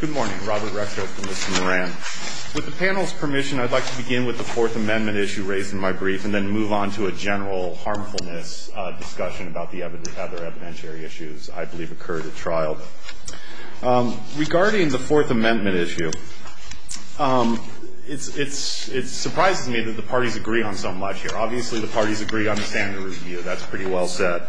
Good morning. Robert Rexhope for Mr. Moran. With the panel's permission, I'd like to begin with the Fourth Amendment issue raised in my brief and then move on to a general harmfulness discussion about the other evidentiary issues I believe occurred at trial. Regarding the Fourth Amendment issue, it surprises me that the parties agree on so much here. Obviously, the parties agree on the standard review. That's pretty well said.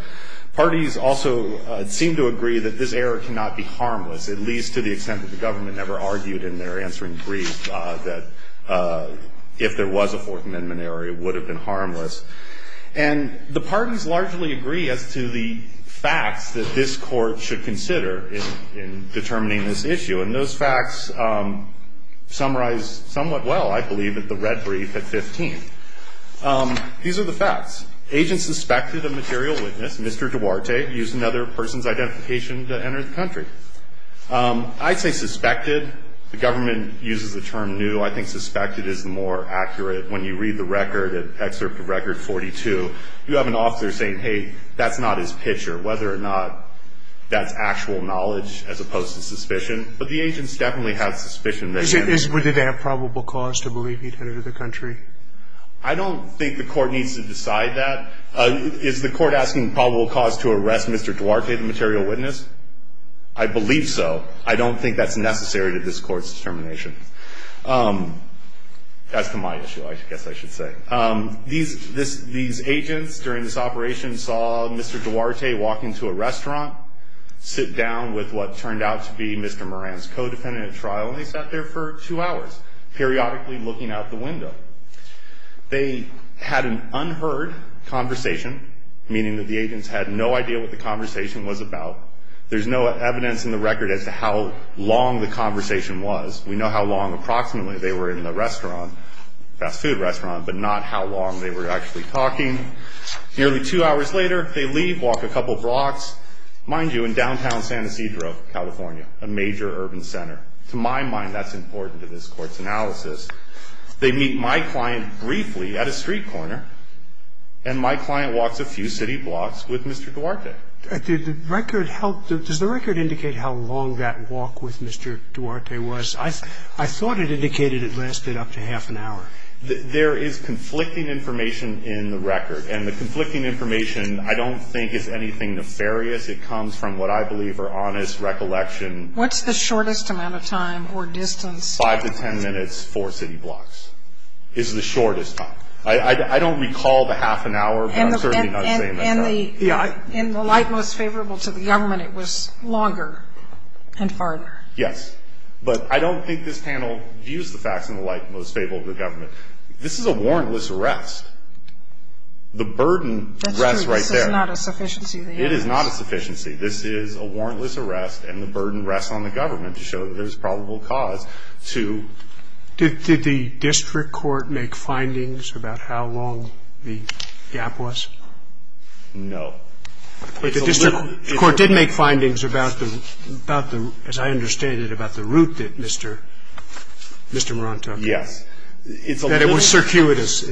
Parties also seem to agree that this error cannot be harmless, at least to the extent that the government never argued in their answering brief that if there was a Fourth Amendment error, it would have been harmless. And the parties largely agree as to the facts that this court should consider in determining this issue. And those facts summarize somewhat well, I believe, at the red brief at 15. These are the facts. Agents suspected a material witness, Mr. Duarte, used another person's identification to enter the country. I'd say suspected. The government uses the term new. I think suspected is more accurate. When you read the record, Excerpt of Record 42, you have an officer saying, hey, that's not his picture, whether or not that's actual knowledge as opposed to suspicion. But the agents definitely have suspicion. Did they have probable cause to believe he'd enter the country? I don't think the court needs to decide that. Is the court asking probable cause to arrest Mr. Duarte, the material witness? I believe so. I don't think that's necessary to this court's determination. That's my issue, I guess I should say. These agents during this operation saw Mr. Duarte walk into a restaurant, sit down with what turned out to be Mr. Moran's co-defendant at trial, and they sat there for two hours, periodically looking out the window. They had an unheard conversation, meaning that the agents had no idea what the conversation was about. There's no evidence in the record as to how long the conversation was. We know how long approximately they were in the restaurant, fast food restaurant, but not how long they were actually talking. Nearly two hours later, they leave, walk a couple blocks. Mind you, in downtown San Ysidro, California, a major urban center. To my mind, that's important to this court's analysis. They meet my client briefly at a street corner, and my client walks a few city blocks with Mr. Duarte. Does the record indicate how long that walk with Mr. Duarte was? I thought it indicated it lasted up to half an hour. There is conflicting information in the record, and the conflicting information I don't think is anything nefarious. It comes from what I believe are honest recollection. What's the shortest amount of time or distance? Five to ten minutes, four city blocks is the shortest time. I don't recall the half an hour, but I'm certainly not saying that's not it. In the light most favorable to the government, it was longer and farther. Yes. But I don't think this panel views the facts in the light most favorable to the government. This is a warrantless arrest. The burden rests right there. That's true. This is not a sufficiency of the act. It is not a sufficiency. This is a warrantless arrest, and the burden rests on the government to show that there's probable cause to... No. It's a little... But the district court did make findings about the, as I understand it, about the route that Mr. Moran took. Yes. It's a little... That it was circuitous.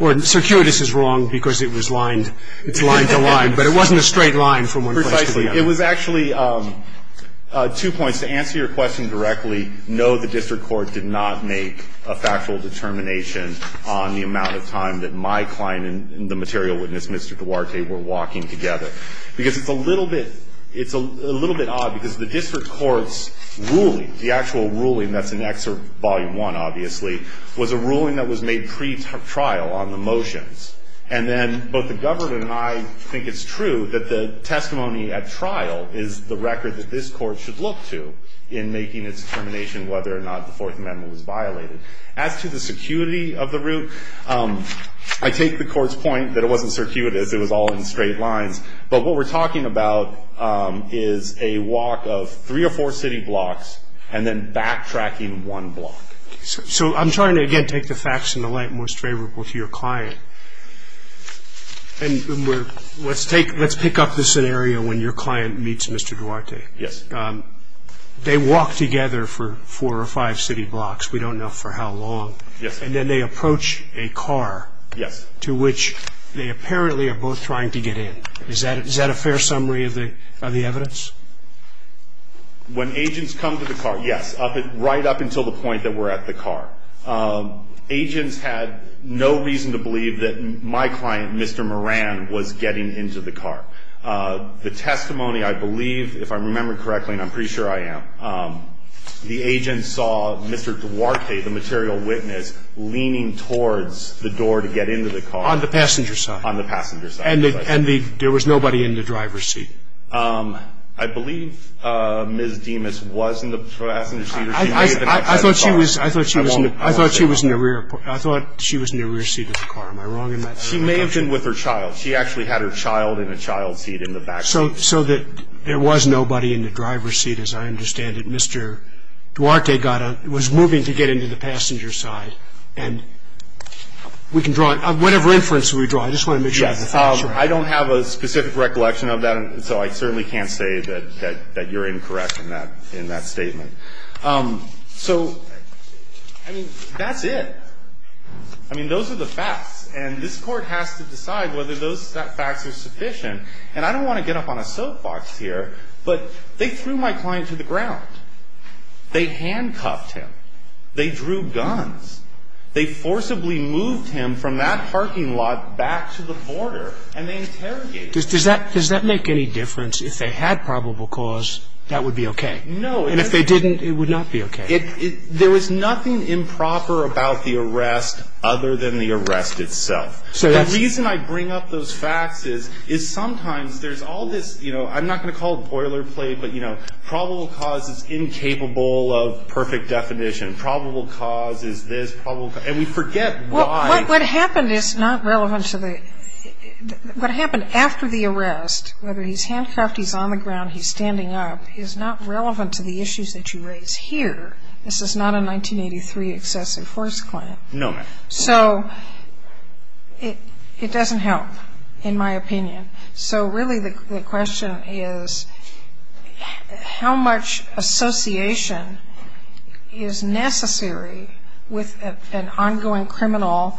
Or circuitous is wrong because it was lined. It's line to line, but it wasn't a straight line from one place to the other. Precisely. It was actually two points. To answer your question directly, no, the district court did not make a factual determination on the amount of time that my client and the material witness, Mr. Duarte, were walking together. Because it's a little bit... It's a little bit odd because the district court's ruling, the actual ruling, that's in Excerpt Volume 1, obviously, was a ruling that was made pretrial on the motions. And then both the governor and I think it's true that the testimony at trial is the record that this court should look to in making its determination whether or not the Fourth Amendment was violated. As to the security of the route, I take the court's point that it wasn't circuitous, it was all in straight lines. But what we're talking about is a walk of three or four city blocks and then backtracking one block. So I'm trying to, again, take the facts in the light most favorable to your client. And let's pick up the scenario when your client meets Mr. Duarte. Yes. They walk together for four or five city blocks. We don't know for how long. Yes. And then they approach a car. Yes. To which they apparently are both trying to get in. Is that a fair summary of the evidence? When agents come to the car, yes, right up until the point that we're at the car. Agents had no reason to believe that my client, Mr. Moran, was getting into the car. The testimony, I believe, if I remember correctly, and I'm pretty sure I am, the agent saw Mr. Duarte, the material witness, leaning towards the door to get into the car. On the passenger side. On the passenger side. And there was nobody in the driver's seat. I believe Ms. Demas was in the passenger seat. I thought she was in the rear seat of the car. Am I wrong in that? She may have been with her child. She actually had her child in a child seat in the back seat. So that there was nobody in the driver's seat, as I understand it. Mr. Duarte was moving to get into the passenger side. And we can draw it. Whatever inference we draw, I just want to make sure. I don't have a specific recollection of that, so I certainly can't say that you're incorrect in that statement. So, I mean, that's it. I mean, those are the facts. And this Court has to decide whether those facts are sufficient. And I don't want to get up on a soapbox here, but they threw my client to the ground. They handcuffed him. They drew guns. They forcibly moved him from that parking lot back to the border. And they interrogated him. Does that make any difference? If they had probable cause, that would be okay. No. And if they didn't, it would not be okay. There was nothing improper about the arrest other than the arrest itself. The reason I bring up those facts is sometimes there's all this, you know, I'm not going to call it boilerplate, but, you know, probable cause is incapable of perfect definition. Probable cause is this. And we forget why. What happened is not relevant to the ‑‑ what happened after the arrest, whether he's handcuffed, he's on the ground, he's standing up, is not relevant to the issues that you raise here. This is not a 1983 excessive force claim. No, ma'am. So it doesn't help, in my opinion. So really the question is how much association is necessary with an ongoing criminal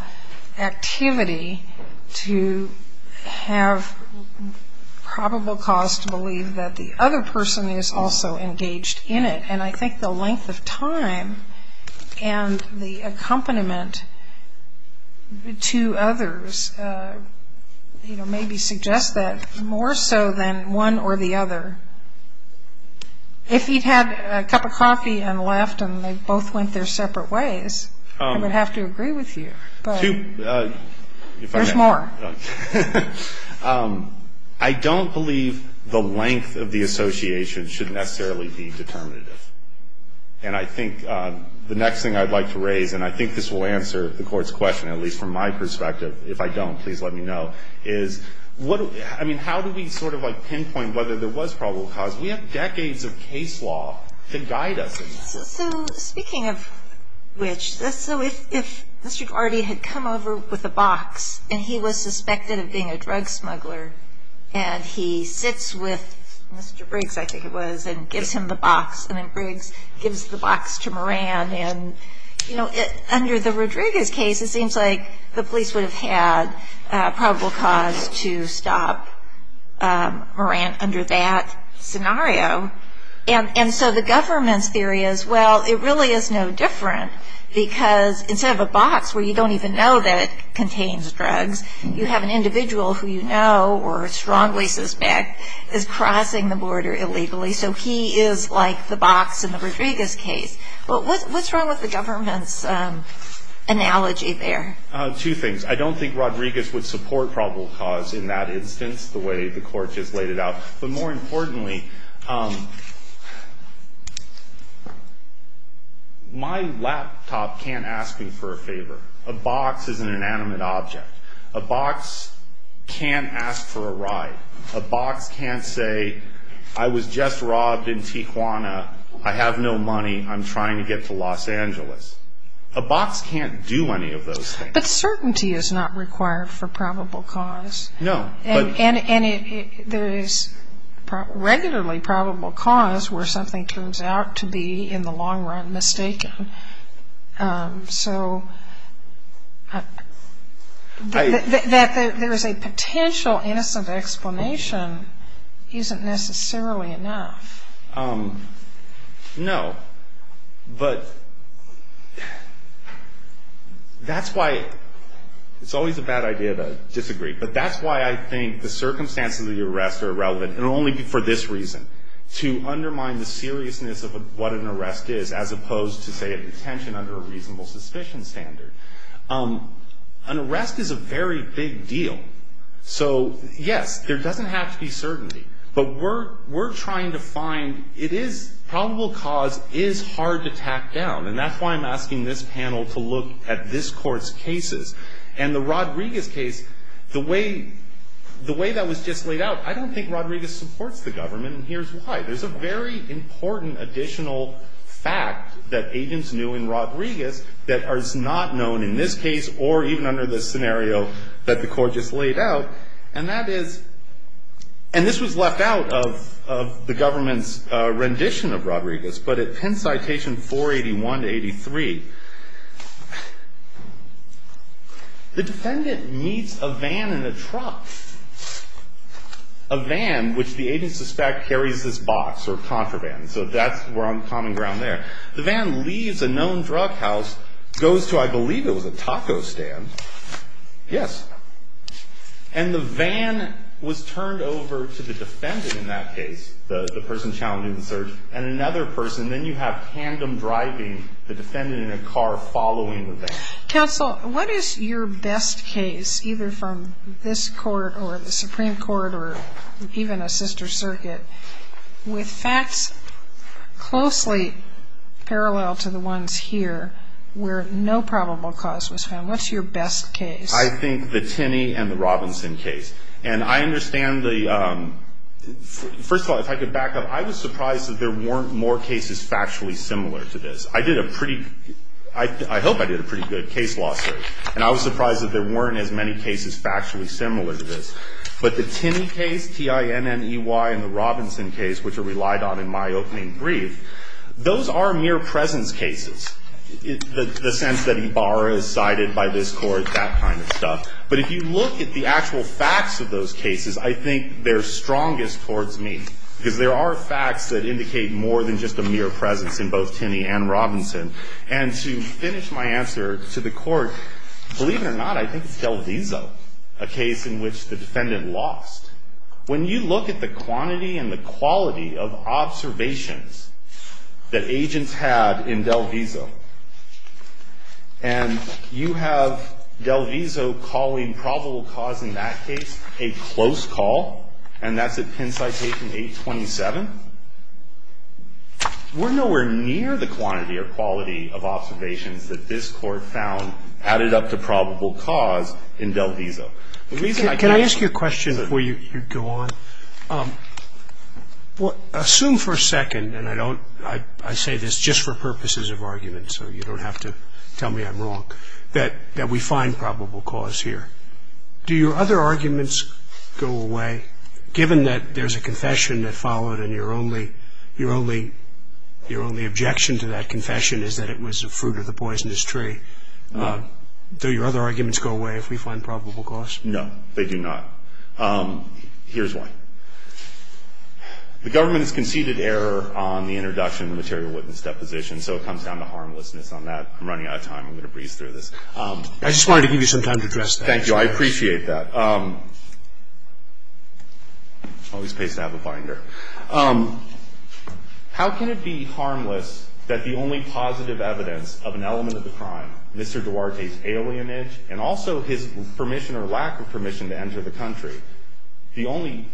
activity to have probable cause to believe that the other person is also engaged in it. And I think the length of time and the accompaniment to others, you know, maybe suggests that more so than one or the other. If he'd had a cup of coffee and left and they both went their separate ways, I would have to agree with you. There's more. I don't believe the length of the association should necessarily be determinative. And I think the next thing I'd like to raise, and I think this will answer the Court's question, at least from my perspective, if I don't, please let me know, is how do we sort of pinpoint whether there was probable cause? We have decades of case law to guide us. So speaking of which, so if Mr. Guardi had come over with a box and he was suspected of being a drug smuggler and he sits with Mr. Briggs, I think it was, and gives him the box, and then Briggs gives the box to Moran, and, you know, under the Rodriguez case, it seems like the police would have had probable cause to stop Moran under that scenario. And so the government's theory is, well, it really is no different, because instead of a box where you don't even know that it contains drugs, you have an individual who you know or strongly suspect is crossing the border illegally. So he is like the box in the Rodriguez case. But what's wrong with the government's analogy there? Two things. I don't think Rodriguez would support probable cause in that instance, the way the Court has laid it out. But more importantly, my laptop can't ask me for a favor. A box is an inanimate object. A box can't ask for a ride. A box can't say, I was just robbed in Tijuana, I have no money, I'm trying to get to Los Angeles. A box can't do any of those things. But certainty is not required for probable cause. No. And there is regularly probable cause where something turns out to be in the long run mistaken. So that there is a potential innocent explanation isn't necessarily enough. No. But that's why it's always a bad idea to disagree. But that's why I think the circumstances of the arrest are relevant, and only for this reason, to undermine the seriousness of what an arrest is as opposed to, say, a detention under a reasonable suspicion standard. An arrest is a very big deal. So, yes, there doesn't have to be certainty. But we're trying to find, it is, probable cause is hard to tack down. And that's why I'm asking this panel to look at this Court's cases. And the Rodriguez case, the way that was just laid out, I don't think Rodriguez supports the government. And here's why. There's a very important additional fact that agents knew in Rodriguez that is not known in this case or even under this scenario that the Court just laid out. And that is, and this was left out of the government's rendition of Rodriguez. But at Penn Citation 481-83, the defendant meets a van in a truck. A van, which the agents suspect carries this box, or contraband. So that's where on common ground there. The van leaves a known drug house, goes to, I believe it was a taco stand. Yes. And the van was turned over to the defendant in that case, the person challenging the search, and another person, then you have tandem driving the defendant in a car following the van. Counsel, what is your best case, either from this Court or the Supreme Court or even a sister circuit, with facts closely parallel to the ones here where no probable cause was found? What's your best case? I think the Tinney and the Robinson case. And I understand the, first of all, if I could back up, I was surprised that there weren't more cases factually similar to this. I did a pretty, I hope I did a pretty good case law search. And I was surprised that there weren't as many cases factually similar to this. But the Tinney case, T-I-N-N-E-Y, and the Robinson case, which are relied on in my opening brief, those are mere presence cases, the sense that he borrows, cited by this Court, that kind of stuff. But if you look at the actual facts of those cases, I think they're strongest towards me. Because there are facts that indicate more than just a mere presence in both Tinney and Robinson. And to finish my answer to the Court, believe it or not, I think it's DelViso, a case in which the defendant lost. When you look at the quantity and the quality of observations that agents had in DelViso, and you have DelViso calling probable cause in that case a close call, and that's at Penn Citation 827, we're nowhere near the quantity or quality of observations that this Court found added up to probable cause in DelViso. The reason I can't say. Scalia. Can I ask you a question before you go on? Assume for a second, and I don't, I say this just for purposes of argument. So you don't have to tell me I'm wrong, that we find probable cause here. Do your other arguments go away, given that there's a confession that followed, and your only objection to that confession is that it was the fruit of the poisonous tree? Do your other arguments go away if we find probable cause? No, they do not. Here's why. The government has conceded error on the introduction of the material witness deposition, so it comes down to harmlessness on that. I'm running out of time. I'm going to breeze through this. I just wanted to give you some time to address that. Thank you. I appreciate that. Always pays to have a binder. How can it be harmless that the only positive evidence of an element of the crime, Mr. Duarte's alienage and also his permission or lack of permission to enter the country, the only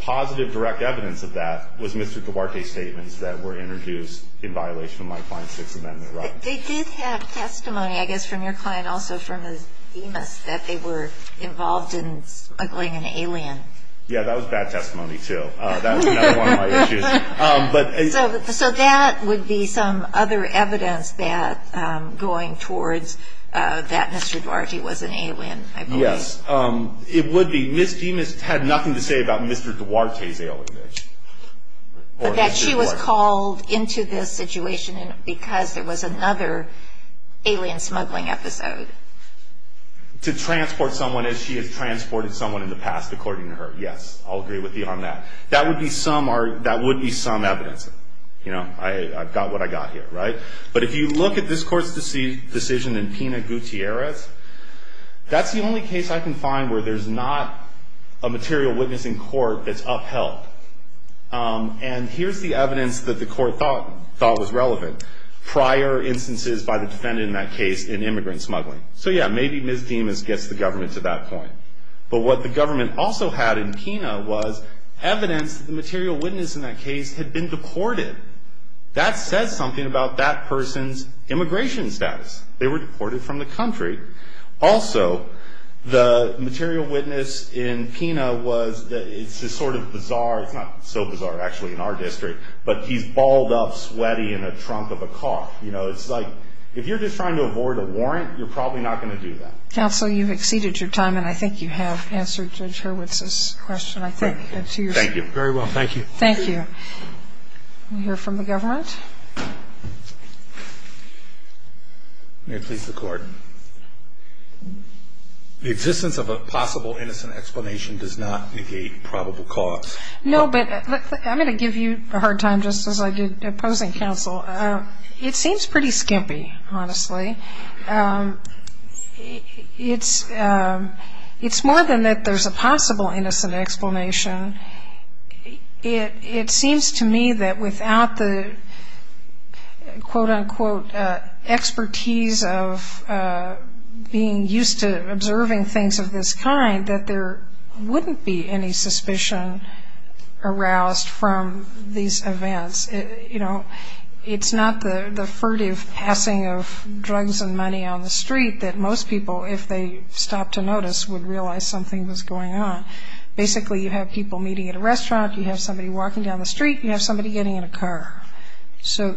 positive direct evidence of that was Mr. Duarte's statements that were introduced in violation of my client's Sixth Amendment rights. They did have testimony, I guess, from your client also from his DEMAS, that they were involved in smuggling an alien. Yeah, that was bad testimony, too. That was another one of my issues. So that would be some other evidence going towards that Mr. Duarte was an alien, I believe. Yes, it would be. Ms. DEMAS had nothing to say about Mr. Duarte's alienage. But that she was called into this situation because there was another alien smuggling episode. To transport someone as she has transported someone in the past, according to her. Yes, I'll agree with you on that. That would be some evidence. I've got what I've got here, right? But if you look at this court's decision in Pina Gutierrez, that's the only case I can find where there's not a material witness in court that's upheld. And here's the evidence that the court thought was relevant. Prior instances by the defendant in that case in immigrant smuggling. So yeah, maybe Ms. DEMAS gets the government to that point. But what the government also had in Pina was evidence that the material witness in that case had been deported. That says something about that person's immigration status. They were deported from the country. Also, the material witness in Pina was, it's sort of bizarre. It's not so bizarre, actually, in our district. But he's balled up, sweaty, in a trunk of a car. You know, it's like, if you're just trying to avoid a warrant, you're probably not going to do that. Counsel, you've exceeded your time. And I think you have answered Judge Hurwitz's question. Thank you. Very well, thank you. Thank you. We'll hear from the government. May it please the Court. The existence of a possible innocent explanation does not negate probable cause. No, but I'm going to give you a hard time, just as I did opposing counsel. It seems pretty skimpy, honestly. It's more than that there's a possible innocent explanation. It seems to me that without the, quote, unquote, expertise of being used to observing things of this kind, that there wouldn't be any suspicion aroused from these events. You know, it's not the furtive passing of drugs and money on the street that most people, if they stopped to notice, would realize something was going on. Basically, you have people meeting at a restaurant. You have somebody walking down the street. You have somebody getting in a car. So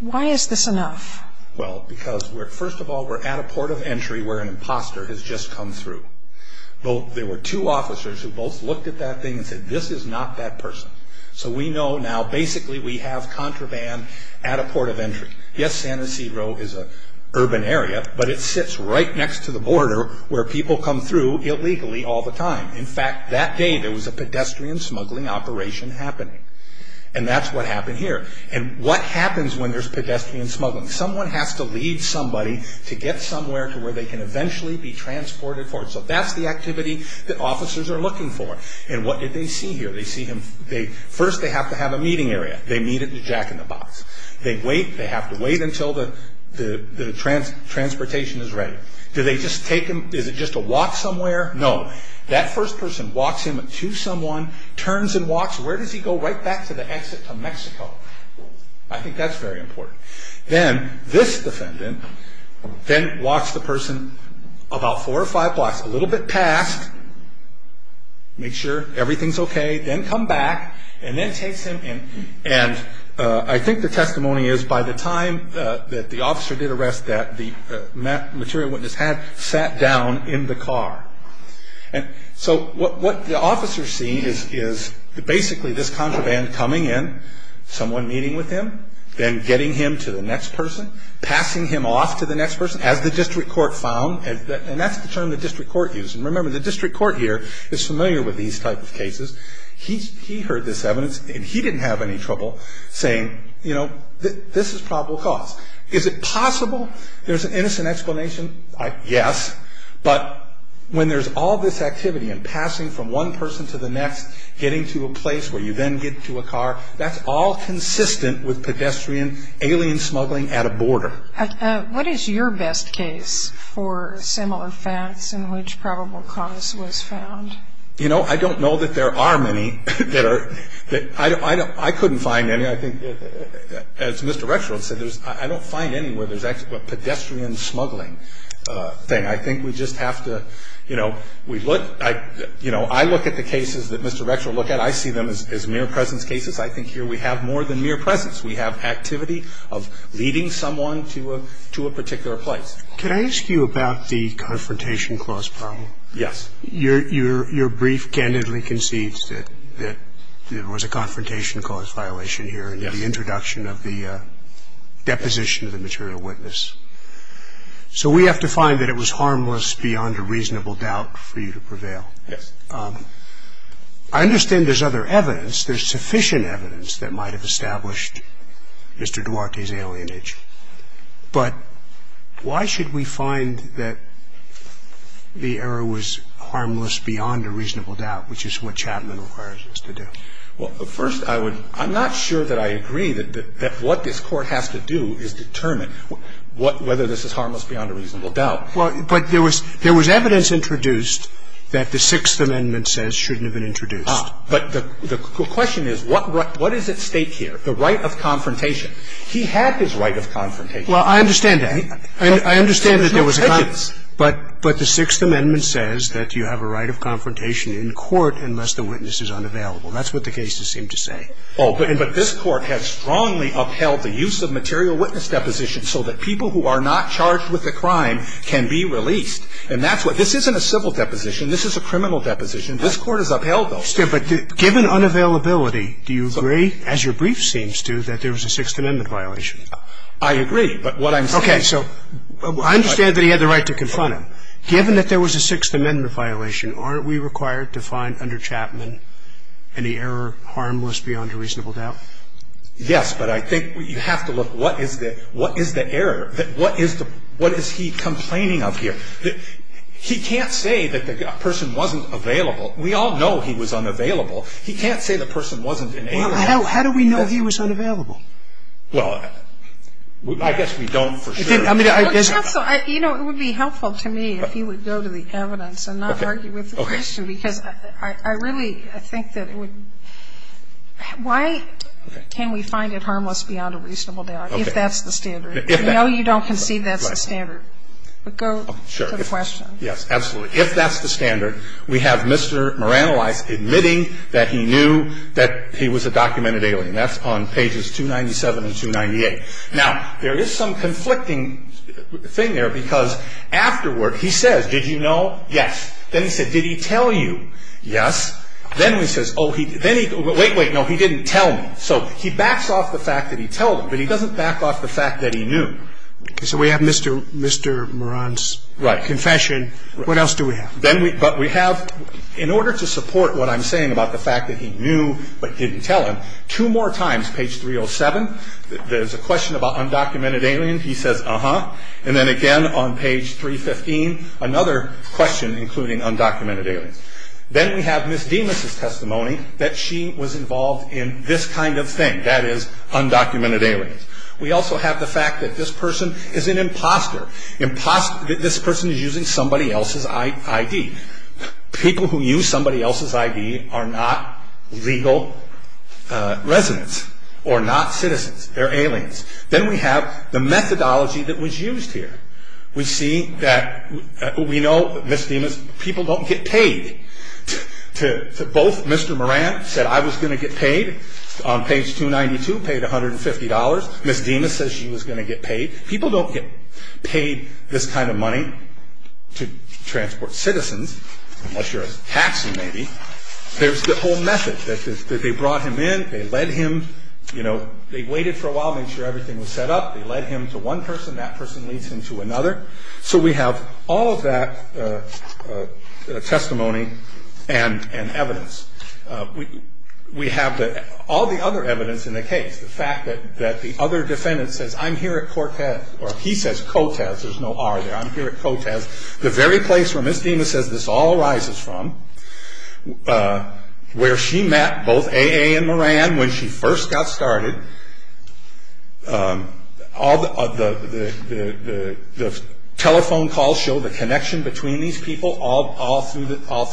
why is this enough? Well, because first of all, we're at a port of entry where an imposter has just come through. There were two officers who both looked at that thing and said, this is not that person. So we know now basically we have contraband at a port of entry. Yes, San Ysidro is an urban area, but it sits right next to the border where people come through illegally all the time. In fact, that day there was a pedestrian smuggling operation happening. And that's what happened here. And what happens when there's pedestrian smuggling? Someone has to lead somebody to get somewhere to where they can eventually be transported forward. So that's the activity that officers are looking for. And what did they see here? First they have to have a meeting area. They meet at the jack-in-the-box. They wait. They have to wait until the transportation is ready. Do they just take him? Is it just a walk somewhere? No. That first person walks him to someone, turns and walks. Where does he go? Right back to the exit to Mexico. I think that's very important. Then this defendant then walks the person about four or five blocks, a little bit past, makes sure everything's okay, then come back and then takes him. And I think the testimony is by the time that the officer did arrest that, the material witness had sat down in the car. And so what the officers see is basically this contraband coming in, someone meeting with him, then getting him to the next person, passing him off to the next person, as the district court found. And that's the term the district court used. And remember, the district court here is familiar with these type of cases. He heard this evidence, and he didn't have any trouble saying, you know, this is probable cause. Is it possible there's an innocent explanation? Yes. But when there's all this activity and passing from one person to the next, getting to a place where you then get to a car, that's all consistent with pedestrian alien smuggling at a border. What is your best case for similar facts in which probable cause was found? You know, I don't know that there are many that are – I couldn't find any. I think, as Mr. Rexfield said, I don't find any where there's actually a pedestrian smuggling thing. I think we just have to, you know, we look – you know, I look at the cases that Mr. Rexfield looked at. I see them as mere presence cases. I think here we have more than mere presence. We have activity of leading someone to a particular place. Can I ask you about the confrontation clause problem? Yes. Your brief candidly concedes that there was a confrontation clause violation here in the introduction of the deposition of the material witness. So we have to find that it was harmless beyond a reasonable doubt for you to prevail. Yes. I understand there's other evidence. There's sufficient evidence that might have established Mr. Duarte's alienage. But why should we find that the error was harmless beyond a reasonable doubt, which is what Chapman requires us to do? Well, first, I would – I'm not sure that I agree that what this Court has to do is determine whether this is harmless beyond a reasonable doubt. Well, but there was – there was evidence introduced that the Sixth Amendment says shouldn't have been introduced. But the question is, what is at stake here? The right of confrontation. He had his right of confrontation. Well, I understand that. I understand that there was a – but the Sixth Amendment says that you have a right of confrontation in court unless the witness is unavailable. That's what the cases seem to say. Oh, but this Court has strongly upheld the use of material witness depositions so that people who are not charged with a crime can be released. And that's what – this isn't a civil deposition. This is a criminal deposition. This Court has upheld those. But given unavailability, do you agree, as your brief seems to, that there was a Sixth Amendment violation? I agree. But what I'm saying – Okay. So I understand that he had the right to confront him. Given that there was a Sixth Amendment violation, aren't we required to find under Chapman any error harmless beyond a reasonable doubt? Yes. But I think you have to look, what is the – what is the error? What is the – what is he complaining of here? He can't say that the person wasn't available. We all know he was unavailable. He can't say the person wasn't inalienable. How do we know he was unavailable? Well, I guess we don't for sure. Counsel, you know, it would be helpful to me if you would go to the evidence and not argue with the question, because I really think that it would – why can we find it harmless beyond a reasonable doubt if that's the standard? No, you don't concede that's the standard. But go to the question. Yes, absolutely. If that's the standard, we have Mr. Moranelis admitting that he knew that he was a documented alien. That's on pages 297 and 298. Now, there is some conflicting thing there, because afterward he says, did you know? Yes. Then he said, did he tell you? Yes. Then he says, oh, he – then he – wait, wait, no, he didn't tell me. So he backs off the fact that he told him, but he doesn't back off the fact that he knew. So we have Mr. Moran's confession. Right. What else do we have? Then we – but we have – in order to support what I'm saying about the fact that he knew but didn't tell him, two more times, page 307, there's a question about undocumented aliens. He says, uh-huh. And then again on page 315, another question including undocumented aliens. Then we have Ms. Demas' testimony that she was involved in this kind of thing, that is, undocumented aliens. We also have the fact that this person is an imposter. Imposter – this person is using somebody else's ID. People who use somebody else's ID are not legal residents or not citizens. They're aliens. Then we have the methodology that was used here. We see that – we know, Ms. Demas, people don't get paid. To – both Mr. Moran said, I was going to get paid. On page 292, paid $150. Ms. Demas says she was going to get paid. People don't get paid this kind of money to transport citizens, unless you're a taxi, maybe. There's the whole method that they brought him in, they led him, you know, they waited for a while, made sure everything was set up. They led him to one person, that person leads him to another. So we have all of that testimony and evidence. We have all the other evidence in the case. The fact that the other defendant says, I'm here at Cortez, or he says Cotez, there's no R there. I'm here at Cotez. The very place where Ms. Demas says this all arises from, where she met both A.A. and Moran when she first got started. All the telephone calls show the connection between these people all through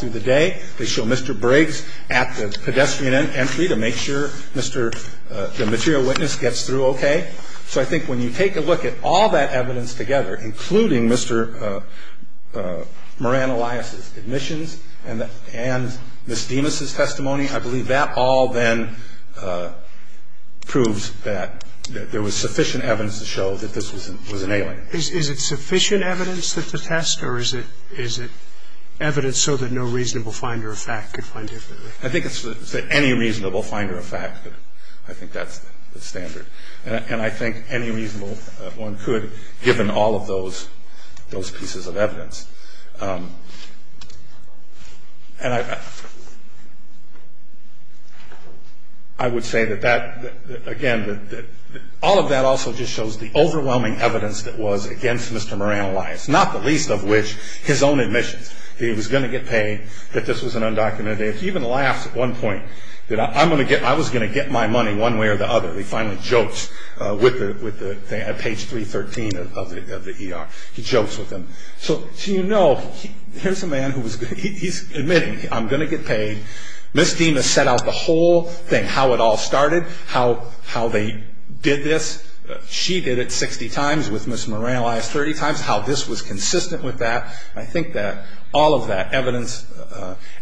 the day. They show Mr. Briggs at the pedestrian entry to make sure Mr. the material witness gets through okay. So I think when you take a look at all that evidence together, including Mr. Moran Elias's admissions and Ms. Demas's testimony, I believe that all then proves that there was sufficient evidence to show that this was an alien. Is it sufficient evidence to test, or is it evidence so that no reasonable finder of fact could find it? I think it's any reasonable finder of fact. I think that's the standard. And I think any reasonable one could, given all of those pieces of evidence. And I would say that again, all of that also just shows the overwhelming evidence that was against Mr. Moran Elias. Not the least of which, his own admissions. He was going to get paid, that this was an undocumented. He even laughs at one point, that I was going to get my money one way or the other. He finally jokes with the page 313 of the ER. He jokes with them. So you know, here's a man who's admitting, I'm going to get paid. Ms. Demas set out the whole thing, how it all started, how they did this. She did it 60 times with Ms. Moran Elias, 30 times, how this was consistent with that. I think that all of that evidence,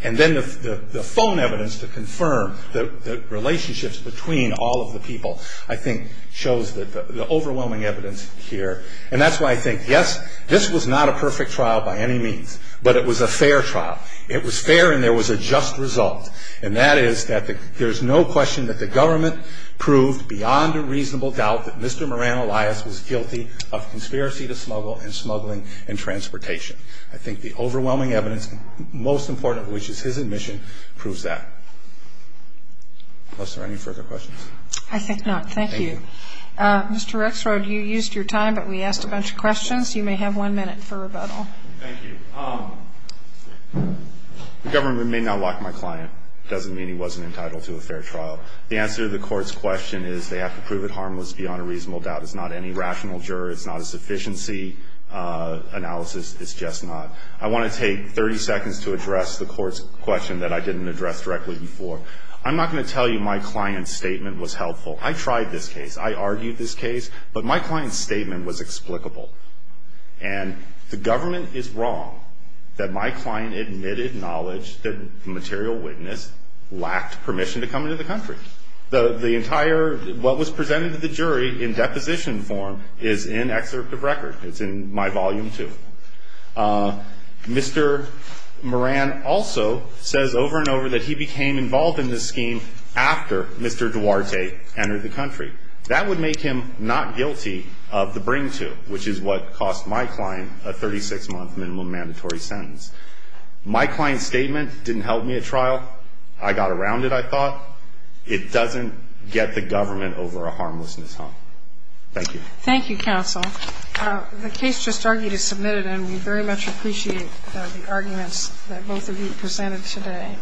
and then the phone evidence to confirm the relationships between all of the people, I think shows the overwhelming evidence here. And that's why I think, yes, this was not a perfect trial by any means. But it was a fair trial. It was fair and there was a just result. And that is that there's no question that the government proved beyond a reasonable doubt that Mr. Moran Elias was guilty of conspiracy to smuggle and smuggling and transportation. I think the overwhelming evidence, most important of which is his admission, proves that. Are there any further questions? I think not. Thank you. Mr. Rexrod, you used your time, but we asked a bunch of questions. You may have one minute for rebuttal. Thank you. The government may not lock my client. It doesn't mean he wasn't entitled to a fair trial. The answer to the court's question is they have to prove it harmless beyond a reasonable doubt. It's not any rational juror. It's not a sufficiency analysis. It's just not. I want to take 30 seconds to address the court's question that I didn't address directly before. I'm not going to tell you my client's statement was helpful. I tried this case. I argued this case. But my client's statement was explicable. And the government is wrong that my client admitted knowledge that the material witness lacked permission to come into the country. The entire what was presented to the jury in deposition form is in excerpt of record. It's in my volume two. Mr. Moran also says over and over that he became involved in this scheme after Mr. Duarte entered the country. That would make him not guilty of the bring-to, which is what cost my client a 36-month minimum mandatory sentence. My client's statement didn't help me at trial. I got around it, I thought. It doesn't get the government over a harmlessness hump. Thank you. Thank you, counsel. The case just argued is submitted, and we very much appreciate the arguments that both of you presented today.